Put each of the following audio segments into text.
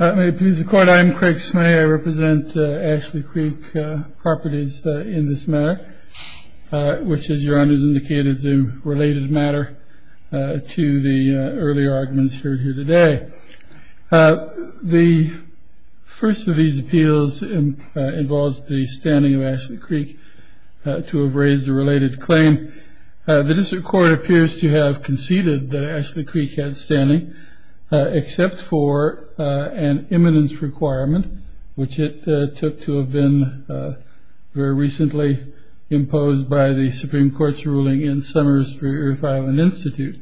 May it please the court, I am Craig Smay, I represent Ashley Creek Properties in this matter which as your honor has indicated is a related matter to the earlier arguments heard here today The first of these appeals involves the standing of Ashley Creek to have raised a related claim The District Court appears to have conceded that Ashley Creek had standing except for an imminence requirement which it took to have been very recently imposed by the Supreme Court's ruling in Summers v. Earth Island Institute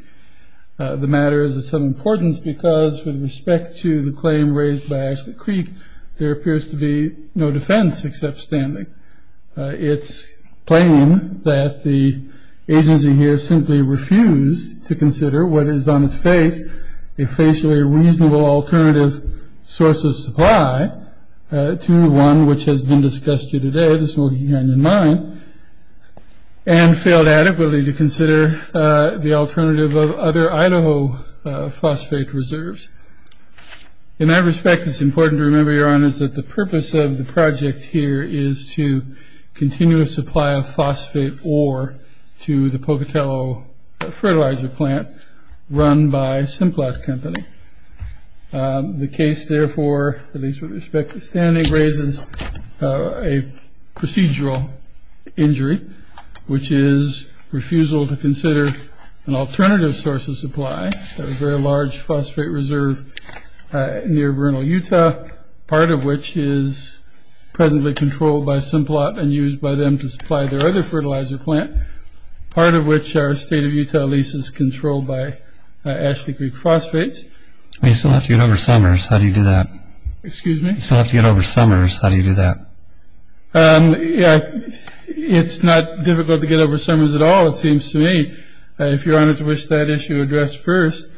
The matter is of some importance because with respect to the claim raised by Ashley Creek there appears to be no defense except standing its claim that the agency here simply refused to consider what is on its face a facially reasonable alternative source of supply to one which has been discussed here today the Smoky Canyon Mine and failed adequately to consider the alternative of other Idaho phosphate reserves In that respect it's important to remember your honors that the purpose of the project here is to continue a supply of phosphate ore to the Pocatello fertilizer plant run by Simplot Company The case therefore, at least with respect to standing, raises a procedural injury which is refusal to consider an alternative source of supply to a very large phosphate reserve near Vernal, Utah part of which is presently controlled by Simplot and used by them to supply their other fertilizer plant part of which our state of Utah lease is controlled by Ashley Creek Phosphates You still have to get over Summers, how do you do that? Excuse me? You still have to get over Summers, how do you do that? It's not difficult to get over Summers at all it seems to me If your honors wish that issue addressed first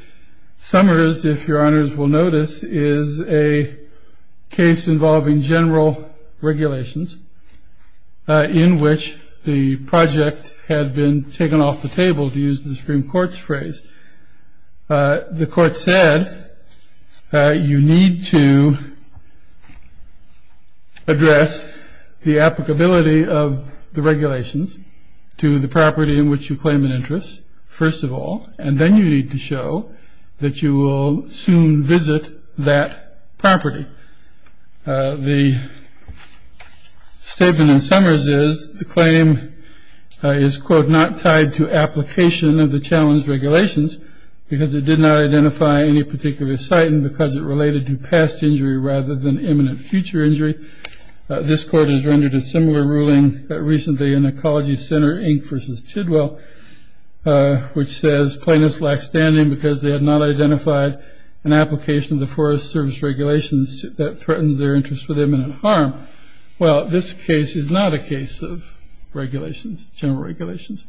Summers, if your honors will notice, is a case involving general regulations in which the project had been taken off the table to use the Supreme Court's phrase The court said you need to address the applicability of the regulations to the property in which you claim an interest first of all and then you need to show that you will soon visit that property The statement in Summers is the claim is quote not tied to application of the challenge regulations because it did not identify any particular site and because it related to past injury rather than imminent future injury This court has rendered a similar ruling recently in Ecology Center Inc. v. Tidwell which says plaintiffs lack standing because they have not identified an application of the Forest Service regulations that threatens their interest with imminent harm Well this case is not a case of regulations, general regulations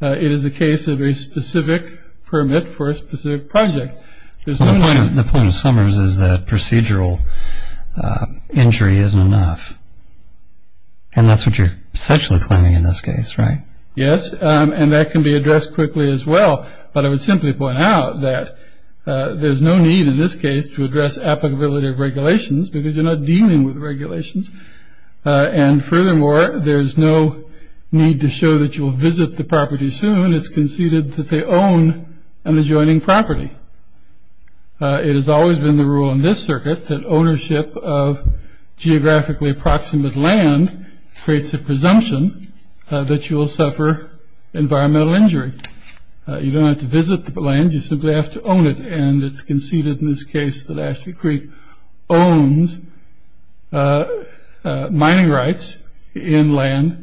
It is a case of a specific permit for a specific project The point of Summers is that procedural injury isn't enough and that's what you're essentially claiming in this case, right? Yes, and that can be addressed quickly as well but I would simply point out that there's no need in this case to address applicability of regulations because you're not dealing with regulations and furthermore there's no need to show that you'll visit the property soon and it's conceded that they own an adjoining property It has always been the rule in this circuit that ownership of geographically approximate land creates a presumption that you'll suffer environmental injury You don't have to visit the land, you simply have to own it and it's conceded in this case that Ashton Creek owns mining rights in land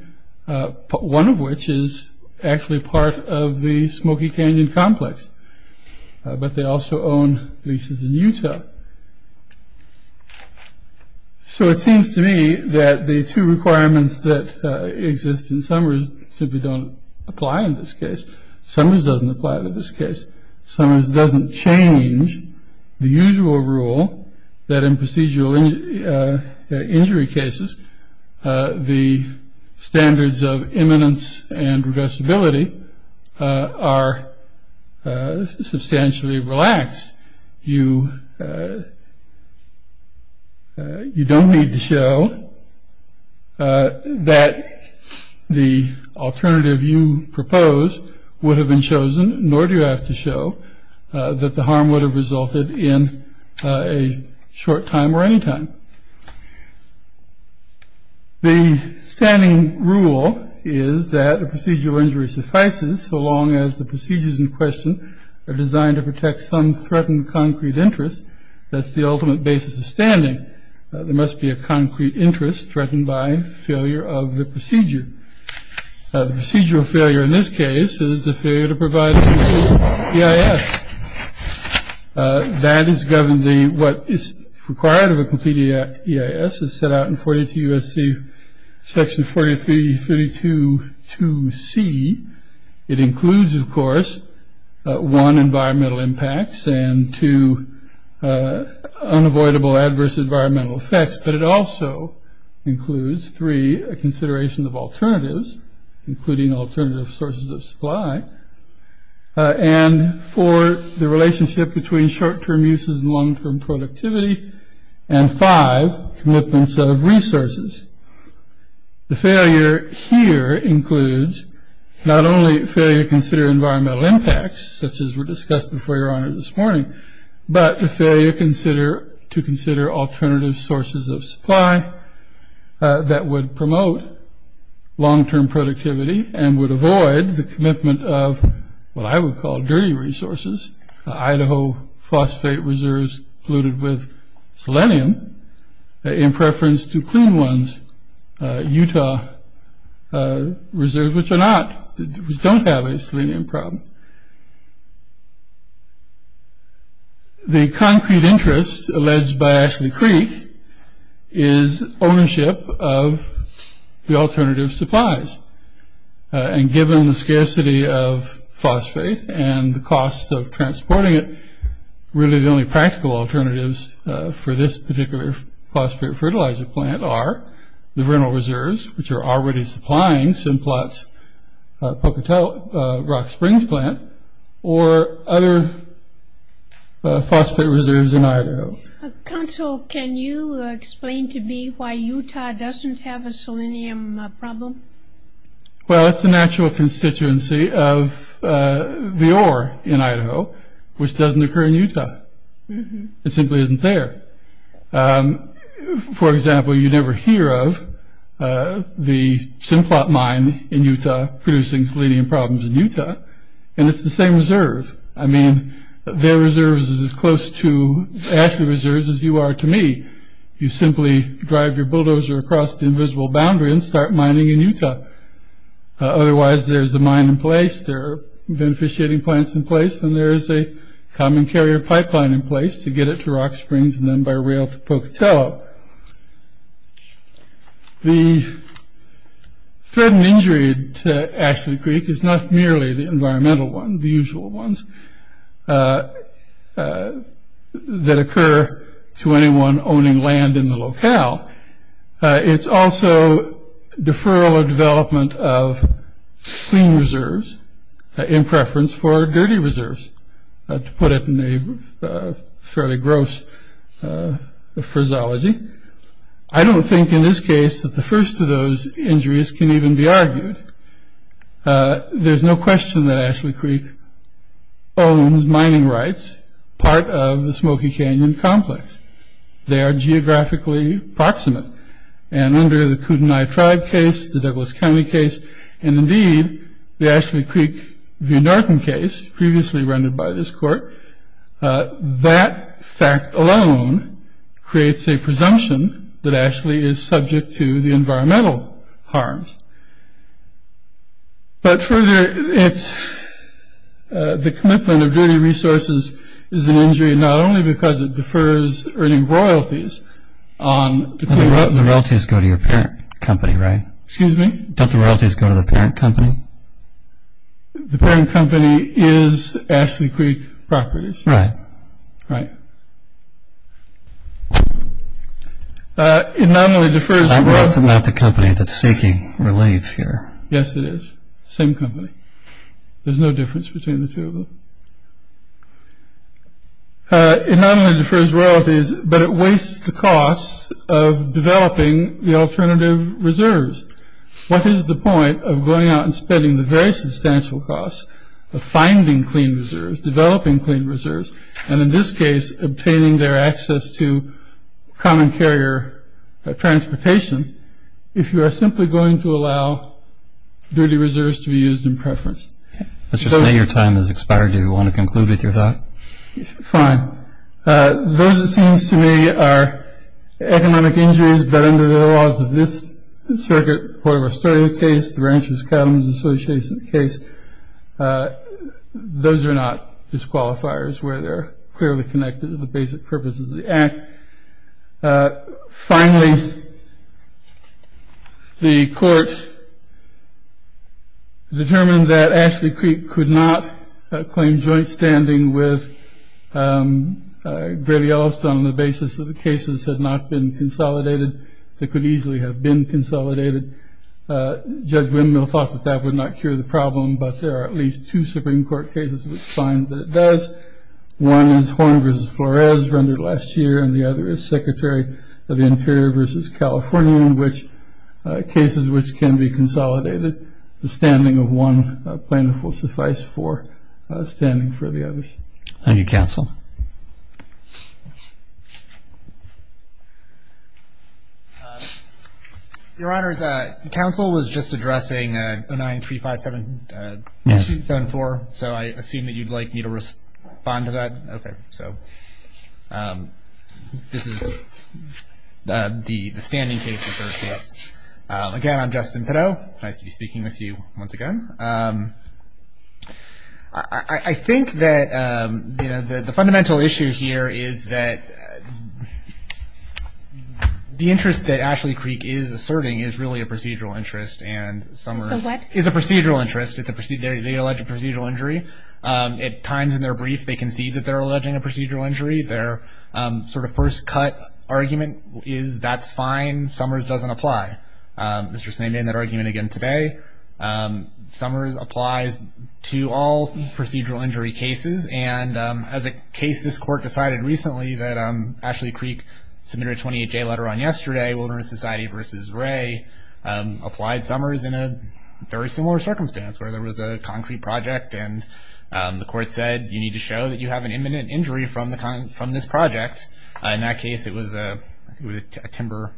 one of which is actually part of the Smoky Canyon complex but they also own leases in Utah So it seems to me that the two requirements that exist in Summers simply don't apply in this case Summers doesn't apply in this case Summers doesn't change the usual rule that in procedural injury cases the standards of imminence and reversibility are substantially relaxed You don't need to show that the alternative you propose would have been chosen nor do you have to show that the harm would have resulted in a short time or any time The standing rule is that a procedural injury suffices so long as the procedures in question are designed to protect some threatened concrete interest That's the ultimate basis of standing There must be a concrete interest threatened by failure of the procedure Procedural failure in this case is the failure to provide a complete EIS That is governed by what is required of a complete EIS It's set out in 42 U.S.C. section 4332-2c It includes of course, one, environmental impacts and two, unavoidable adverse environmental effects but it also includes three, a consideration of alternatives including alternative sources of supply and four, the relationship between short-term uses and long-term productivity and five, commitments of resources The failure here includes not only failure to consider environmental impacts such as were discussed before your honor this morning but the failure to consider alternative sources of supply that would promote long-term productivity and would avoid the commitment of what I would call dirty resources Idaho phosphate reserves polluted with selenium in preference to clean ones Utah reserves which don't have a selenium problem The concrete interest alleged by Ashley Creek is ownership of the alternative supplies and given the scarcity of phosphate and the cost of transporting it really the only practical alternatives for this particular phosphate fertilizer plant are the vernal reserves which are already supplying Simplot's Pocatell Rock Springs plant or other phosphate reserves in Idaho Counsel, can you explain to me why Utah doesn't have a selenium problem? Well it's a natural constituency of the ore in Idaho which doesn't occur in Utah It simply isn't there For example, you never hear of the Simplot mine in Utah producing selenium problems in Utah and it's the same reserve I mean their reserves is as close to Ashley reserves as you are to me You simply drive your bulldozer across the invisible boundary and start mining in Utah Otherwise there's a mine in place, there are beneficiating plants in place and there is a common carrier pipeline in place to get it to Rock Springs and then by rail to Pocatell The threat and injury to Ashley Creek is not merely the environmental one the usual ones that occur to anyone owning land in the locale It's also deferral of development of clean reserves in preference for dirty reserves to put it in a fairly gross phraseology I don't think in this case that the first of those injuries can even be argued There's no question that Ashley Creek owns mining rights part of the Smoky Canyon complex They are geographically proximate and under the Kootenai tribe case, the Douglas County case and indeed the Ashley Creek v. Norton case previously rendered by this court that fact alone creates a presumption that Ashley is subject to the environmental harms But further, the commitment of dirty resources is an injury not only because it defers earning royalties The royalties go to your parent company, right? Excuse me? Don't the royalties go to the parent company? The parent company is Ashley Creek Properties Right Right It not only defers That's not the company that's seeking relief here Yes it is, same company There's no difference between the two of them It not only defers royalties but it wastes the costs of developing the alternative reserves What is the point of going out and spending the very substantial costs of finding clean reserves, developing clean reserves and in this case obtaining their access to common carrier transportation if you are simply going to allow dirty reserves to be used in preference Let's just say your time has expired Do you want to conclude with your thought? Fine Those it seems to me are economic injuries but under the laws of this circuit, the Port of Australia case the Ranchers Cattlemen's Association case those are not disqualifiers where they are clearly connected to the basic purposes of the act Finally, the court determined that Ashley Creek could not claim joint standing with Great Yellowstone on the basis that the cases had not been consolidated that could easily have been consolidated Judge Wendell thought that that would not cure the problem but there are at least two Supreme Court cases which find that it does One is Horn v. Flores rendered last year and the other is Secretary of the Interior v. California in which cases which can be consolidated the standing of one plaintiff will suffice for standing for the others Thank you, Counsel Your Honors, Counsel was just addressing 09-357-274 so I assume that you'd like me to respond to that Okay, so this is the standing case, the third case Again, I'm Justin Pideaux, nice to be speaking with you once again I think that the fundamental issue here is that the interest that Ashley Creek is asserting is really a procedural interest So what? Is a procedural interest, they allege a procedural injury At times in their brief, they concede that they're alleging a procedural injury Their sort of first cut argument is that's fine, Summers doesn't apply Mr. Sney made that argument again today Summers applies to all procedural injury cases and as a case this court decided recently that Ashley Creek submitted a 28-J letter on yesterday to Wilderness Society v. Wray applied Summers in a very similar circumstance where there was a concrete project and the court said you need to show that you have an imminent injury from this project In that case it was a timber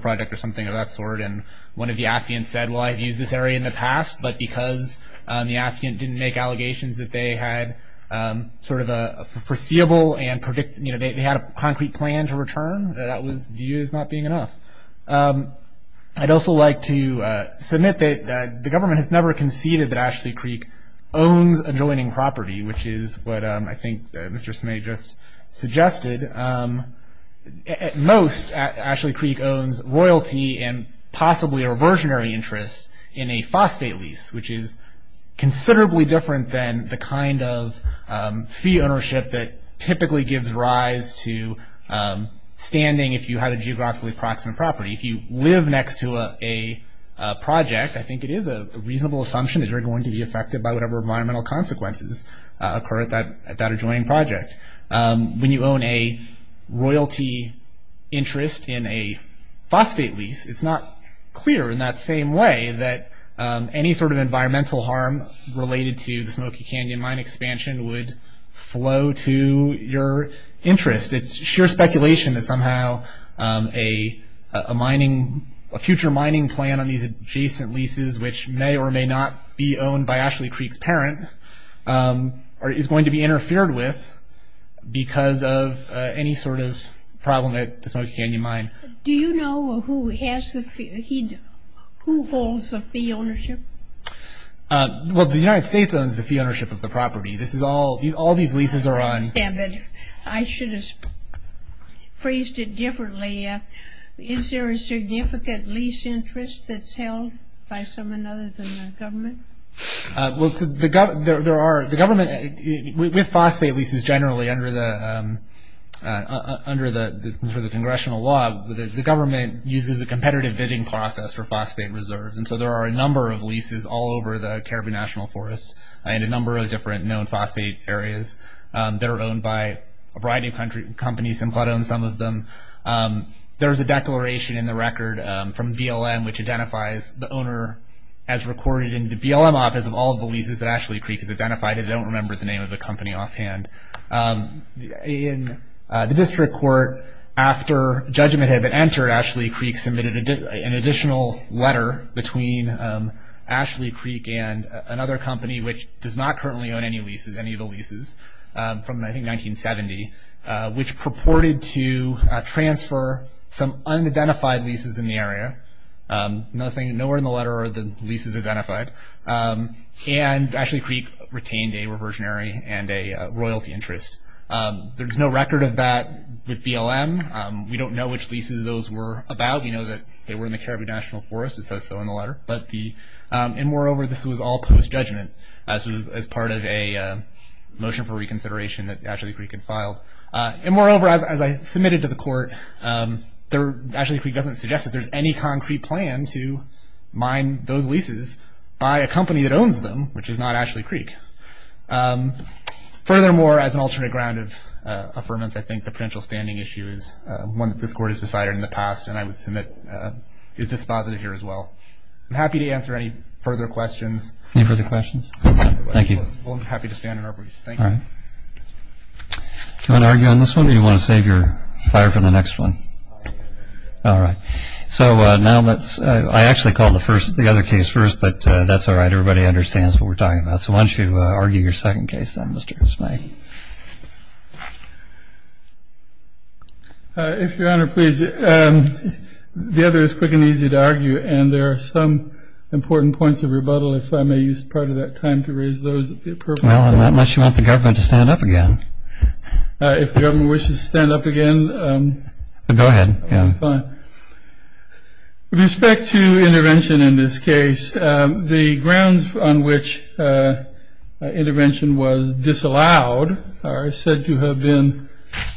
project or something of that sort and one of the affiant said, well I've used this area in the past but because the affiant didn't make allegations that they had sort of a foreseeable and predict, you know, they had a concrete plan to return That view is not being enough I'd also like to submit that the government has never conceded that Ashley Creek owns adjoining property, which is what I think Mr. Sney just suggested At most, Ashley Creek owns royalty and possibly a reversionary interest in a phosphate lease, which is considerably different than the kind of that typically gives rise to standing if you have a geographically proximate property If you live next to a project, I think it is a reasonable assumption that you're going to be affected by whatever environmental consequences occur at that adjoining project When you own a royalty interest in a phosphate lease, it's not clear in that same way that any sort of environmental harm related to the Smoky Canyon mine expansion would flow to your interest It's sheer speculation that somehow a future mining plan on these adjacent leases which may or may not be owned by Ashley Creek's parent is going to be interfered with because of any sort of problem at the Smoky Canyon mine Do you know who holds the fee ownership? The United States owns the fee ownership of the property All these leases are on I should have phrased it differently Is there a significant lease interest that's held by someone other than the government? With phosphate leases generally under the congressional law the government uses a competitive bidding process for phosphate reserves There are a number of leases all over the Caribbean National Forest and a number of different known phosphate areas that are owned by a variety of companies Simplot owns some of them There's a declaration in the record from BLM which identifies the owner as recorded in the BLM office of all the leases that Ashley Creek has identified I don't remember the name of the company offhand In the district court, after judgment had been entered Ashley Creek submitted an additional letter between Ashley Creek and another company which does not currently own any of the leases from I think 1970 which purported to transfer some unidentified leases in the area Nowhere in the letter are the leases identified Ashley Creek retained a reversionary and a royalty interest There's no record of that with BLM We don't know which leases those were about We know that they were in the Caribbean National Forest It says so in the letter And moreover, this was all post-judgment as part of a motion for reconsideration that Ashley Creek had filed And moreover, as I submitted to the court Ashley Creek doesn't suggest that there's any concrete plan to mine those leases by a company that owns them which is not Ashley Creek Furthermore, as an alternate ground of affirmance I think the potential standing issue is one that this court has decided in the past and I would submit is dispositive here as well I'm happy to answer any further questions Any further questions? Thank you Well, I'm happy to stand in our briefs Thank you Do you want to argue on this one or do you want to save your fire for the next one? All right So now let's I actually called the other case first but that's all right Everybody understands what we're talking about So why don't you argue your second case then, Mr. Smythe If your honor, please The other is quick and easy to argue and there are some important points of rebuttal if I may use part of that time to raise those Well, unless you want the government to stand up again If the government wishes to stand up again Go ahead Fine With respect to intervention in this case The grounds on which intervention was disallowed are said to have been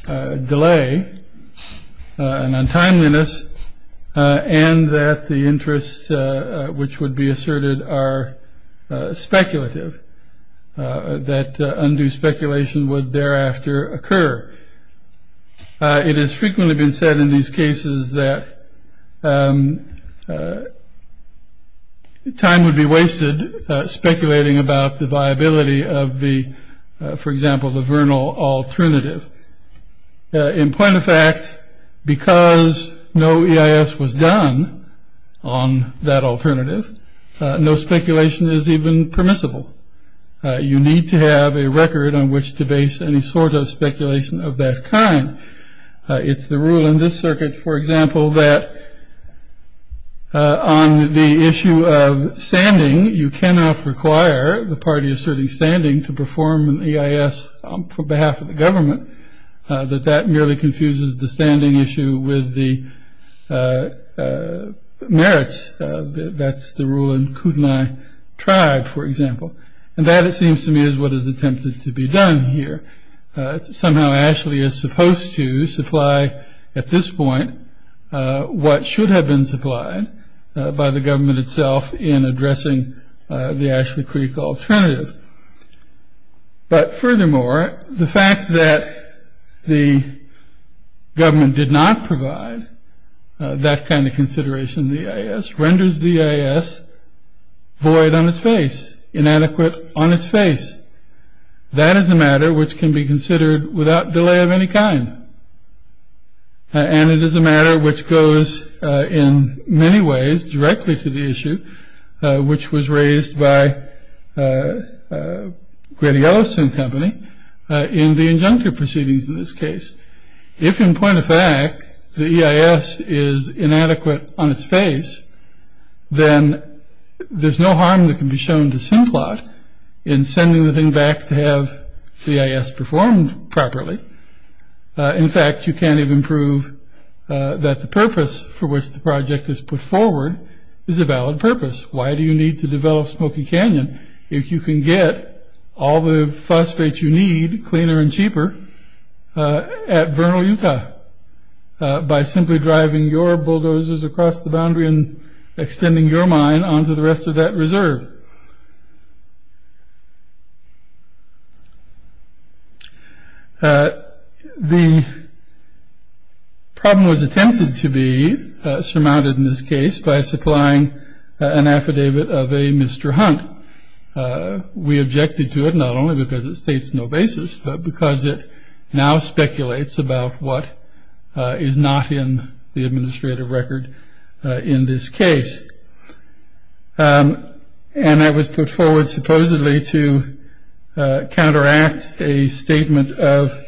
delay and untimeliness and that the interests which would be asserted are speculative that undue speculation would thereafter occur It has frequently been said in these cases that time would be wasted speculating about the viability of the for example, the Vernal alternative In point of fact because no EIS was done on that alternative no speculation is even permissible You need to have a record on which to base any sort of speculation of that kind It's the rule in this circuit, for example that on the issue of standing you cannot require the party asserting standing to perform an EIS on behalf of the government that that merely confuses the standing issue with the merits That's the rule in Kootenai tribe, for example and that, it seems to me, is what is attempted to be done here Somehow, Ashley is supposed to supply at this point what should have been supplied by the government itself in addressing the Ashley Creek alternative But furthermore, the fact that the government did not provide that kind of consideration of the EIS renders the EIS void on its face inadequate on its face That is a matter which can be considered without delay of any kind And it is a matter which goes in many ways directly to the issue which was raised by Grady-Elliston company in the injunctive proceedings in this case If in point of fact the EIS is inadequate on its face then there's no harm that can be shown to Simplot in sending the thing back to have the EIS performed properly In fact, you can't even prove that the purpose for which the project is put forward is a valid purpose Why do you need to develop Smoky Canyon if you can get all the phosphates you need cleaner and cheaper at Vernal, Utah by simply driving your bulldozers across the boundary and extending your mine onto the rest of that reserve The problem was attempted to be surmounted in this case by supplying an affidavit of a Mr. Hunt We objected to it not only because it states no basis but because it now speculates about what is not in the administrative record in this case And that was put forward supposedly to counteract a statement of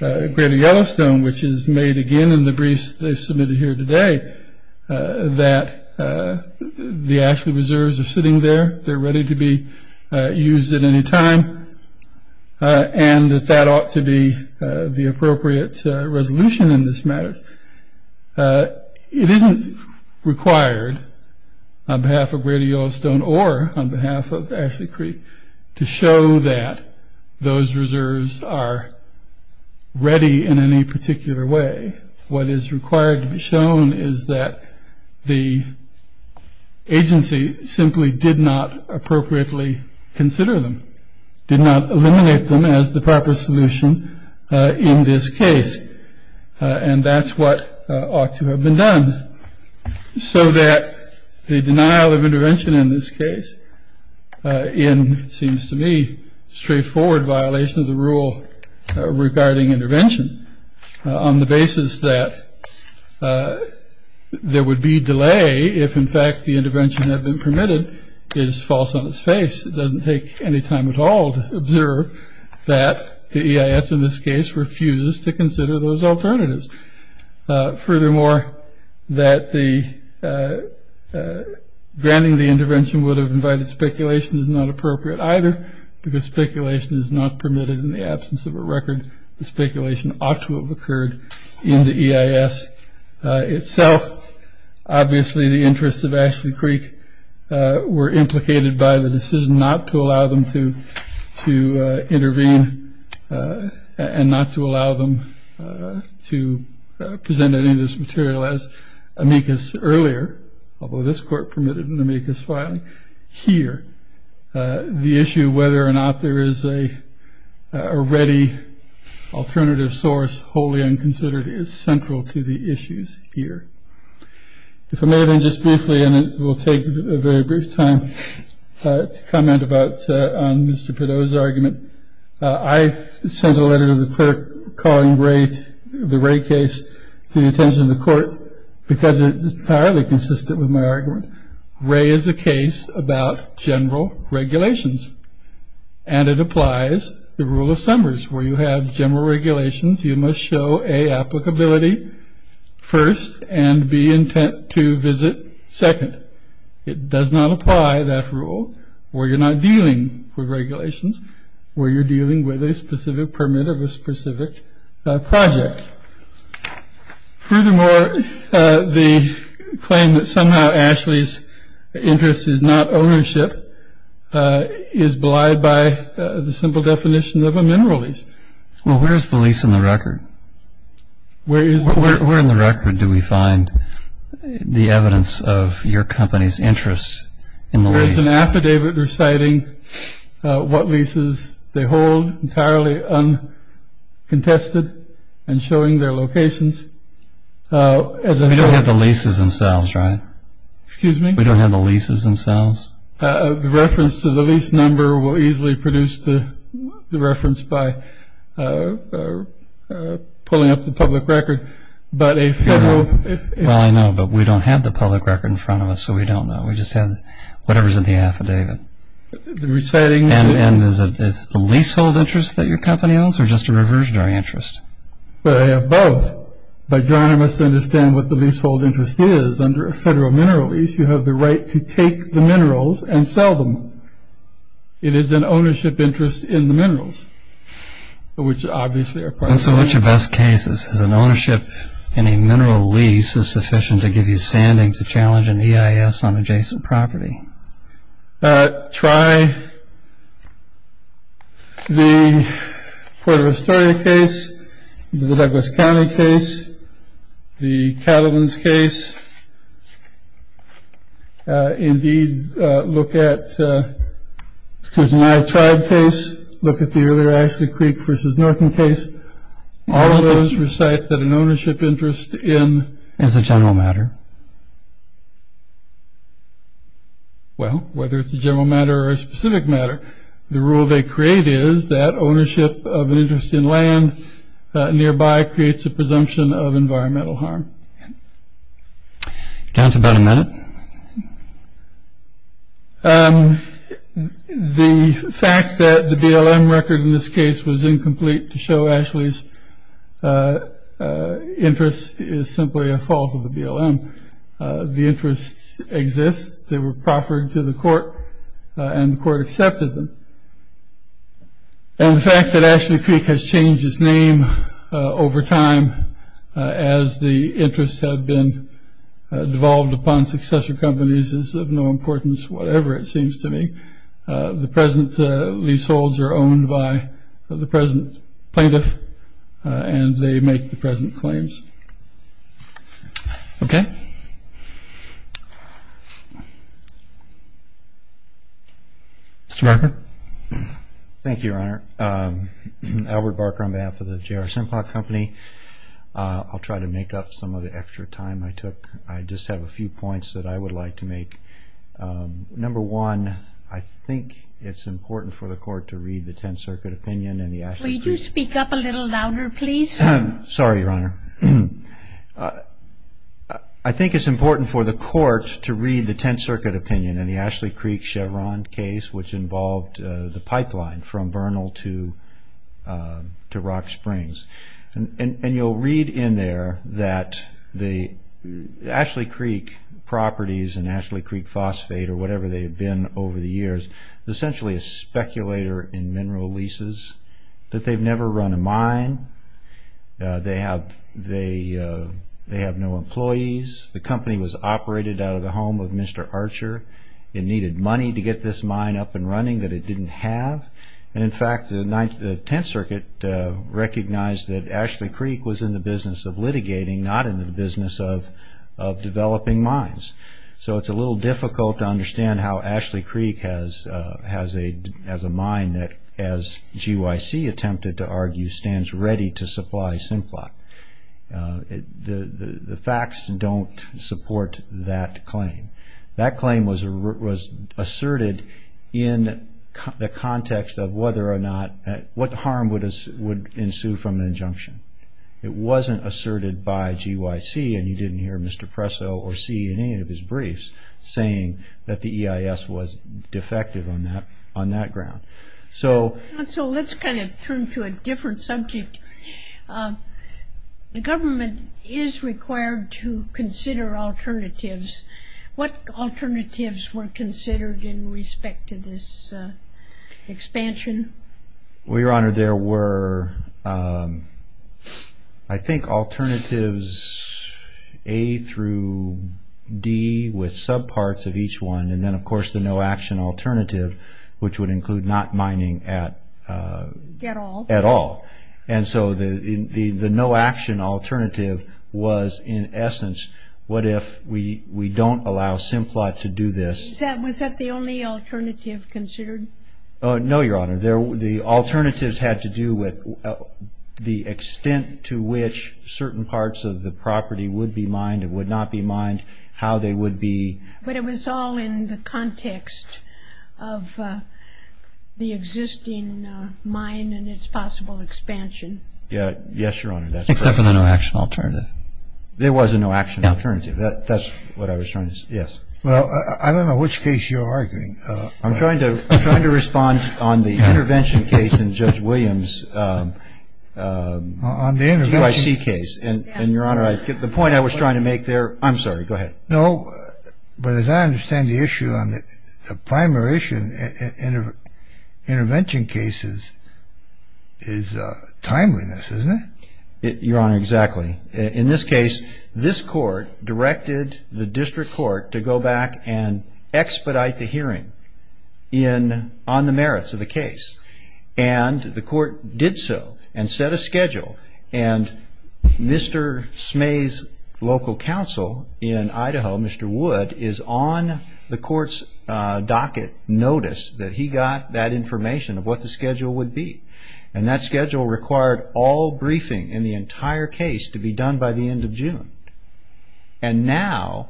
Grady-Elliston which is made again in the briefs they submitted here today that the ashley reserves are sitting there they're ready to be used at any time and that that ought to be the appropriate resolution in this matter It isn't required on behalf of Grady-Elliston or on behalf of Ashley Creek to show that those reserves are ready in any particular way What is required to be shown is that the agency simply did not appropriately consider them did not eliminate them as the proper solution in this case and that's what ought to have been done so that the denial of intervention in this case in seems to me straightforward violation of the rule regarding intervention on the basis that there would be delay if in fact the intervention had been permitted is false on its face It doesn't take any time at all to observe that the EIS in this case refuses to consider those alternatives furthermore that the granting the intervention would have invited speculation is not appropriate either because speculation is not permitted in the absence of a record the speculation ought to have occurred in the EIS itself obviously the interests of Ashley Creek were implicated by the decision not to intervene and not to allow them to present any of this material as amicus earlier although this court permitted an amicus filing here the issue whether or not there is a ready alternative source wholly unconsidered is central to the issues here If I may then just briefly and it will take a very brief time to comment about Mr. Pideaux's argument I sent a letter to the clerk calling the Ray case to the attention of the court because it is entirely consistent with my argument Ray is a case about general regulations and it applies the rule of Summers where you have general regulations you must show a applicability first and be intent to visit second it does not apply that rule where you're not dealing with regulations where you're dealing with a specific permit of a specific project furthermore the claim that somehow Ashley's interest is not ownership is belied by the simple definition of a mineral lease Well where's the lease in the record? Where is it? Where in the record do we find the evidence of your company's interest in the lease? There is an affidavit reciting what leases they hold entirely uncontested and showing their locations We don't have the leases themselves right? Excuse me? We don't have the leases themselves? The reference to the lease number will easily produce the reference by pulling up the public record Well I know but we don't have the public record in front of us so we don't know we just have whatever's in the affidavit and is it the leasehold interest that your company owns or just a reversionary interest? I have both but you must understand what the leasehold interest is under a federal mineral lease you have the right to take the minerals and sell them it is an ownership interest in the minerals which obviously are part of the ownership in a mineral lease is sufficient to give you standing to challenge an EIS on adjacent property Try the Port of Astoria case, the Douglas County case, the Cattleman's case Indeed look at my tribe case, look at the earlier Ashley Creek versus Norton case All of those recite that an ownership interest in... Is a general matter? Well whether it's a general matter or a specific matter the rule they create is that ownership of an interest in land nearby creates a presumption of environmental harm. Down to about a minute? The fact that the BLM record in this Ashley's interest is simply a fault of the BLM. The interests exist they were proffered to the court and the court accepted them. And the fact that Ashley Creek has changed its name over time as the interests have been devolved upon successor companies is of no importance whatever it seems to me. The present leaseholds are owned by the present plaintiff and they make the present claims. Okay. Mr. Barker? Thank you, Your Honor. Albert Barker on behalf of the J.R. Simplot Company. I'll try to make up some of the extra time I took. I just have a few points that I would like to make. Number one, I think it's important for the court to read the Tenth Circuit opinion. Will you speak up a little louder, please? Sorry, Your Honor. I think it's important for the court to read the Tenth Circuit opinion in the Ashley Creek Chevron case which involved the pipeline from Vernal to Rock Springs. And you'll read in there that the Ashley Creek properties and Ashley Creek Phosphate or whatever they've been over the years is essentially a mine. They have no employees. The company was operated out of the home of Mr. Archer. It needed money to get this mine up and running that it didn't have. And in fact, the Tenth Circuit recognized that Ashley Creek was in the business of litigating, not in the business of developing mines. understand how Ashley Creek has a mine that as J.R. Simplot Company has attempted to argue stands ready to supply Simplot. The facts don't support that claim. That claim was asserted in the context of whether or not what harm would ensue from an injunction. It wasn't asserted by G.Y.C. and you didn't hear Mr. Presso or see any of his briefs saying that the EIS was defective on that ground. So let's kind of turn to a different subject. The government is required to consider alternatives. What alternatives were considered in respect to this expansion? Well, Your Honor, there were I think alternatives A through D with subparts of each one and then of course the no action alternative which would include not mining at all. And so the no action alternative was in essence what if we don't allow Simplot to do this. Was that the only alternative considered? No, Your Honor. The alternatives had to do with the extent to which certain parts of the property would be mined and would not be mined, how they would be. But it was all in the context of the existing mine and its possible expansion. Yes, Your Honor. Except for the no action alternative. There was a no action alternative. That's what I was trying to say. Yes. Well, I don't know which case you're arguing. I'm trying to respond on the intervention case in Judge Williams' G.Y.C. case. And Your Honor, the point I was trying to make there. I'm sorry. Go ahead. No. But as I understand the issue on the primary issue in intervention cases is timeliness, isn't it? Your Honor, exactly. In this case, this court directed the district court to go back and expedite the hearing on the merits of the case. And the court did so and set a schedule. And Mr. Smay's local counsel in Idaho, Mr. Wood, is on the court's docket notice that he got that information of what the schedule would be. And that schedule required all briefing in the entire case to be done by the end of June. And now,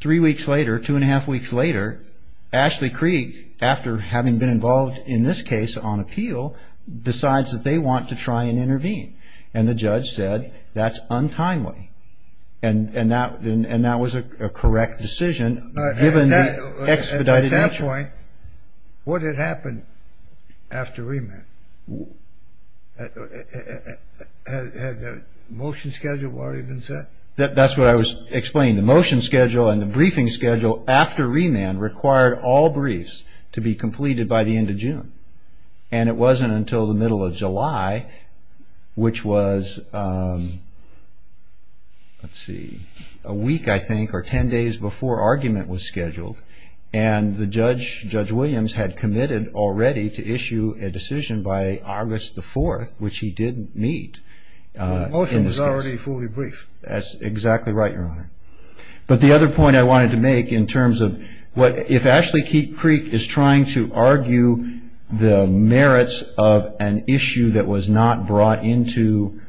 three weeks later, two and a half weeks later, Ashley Krieg, after having been involved in this case on And the judge said, that's untimely. And that was a correct decision given the expedited action. At that point, what had happened after remand? Had the motion schedule already been set? That's what I was explaining. The motion schedule and the briefing schedule after remand required all briefs to be completed by the end of June. And it wasn't until the middle of June, which was, let's see, a week, I think, or ten days before argument was scheduled. And the judge, Judge Williams, had committed already to issue a decision by August the 4th, which he did meet. The motion was already fully brief. That's exactly right, Your Honor. But the other point I wanted to make in terms of what, if Ashley Krieg is trying to argue the merits of an issue that was not brought into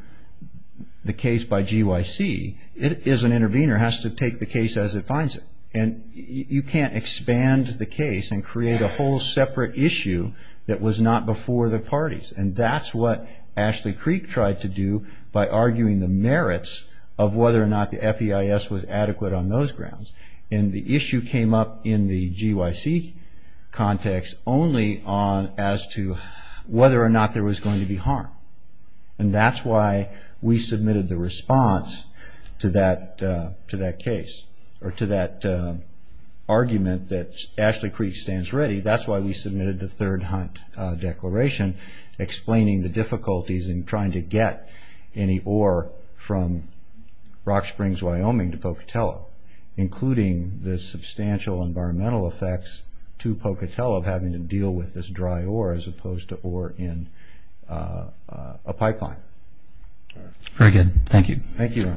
the case by GYC, it is an intervener, has to take the case as it finds it. And you can't expand the case and create a whole separate issue that was not before the parties. And that's what Ashley Krieg tried to do by arguing the merits of whether or not the FEIS was adequate on those grounds. And the issue came up in the GYC context only as to whether or not there was going to be harm. And that's why we submitted the response to that case, or to that argument that Ashley Krieg stands ready. That's why we submitted the third hunt declaration explaining the difficulties in trying to get any ore from Rock Springs, Wyoming to Pocatello, including the substantial environmental effects to Pocatello of having to deal with this dry ore as a pipeline. Very good. Thank you. Thank you.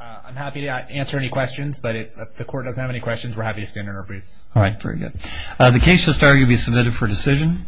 I'm happy to answer any questions, but if the court doesn't have any questions, we're happy to stand on our briefs. All right. Very good. The case shall start to be submitted for decision.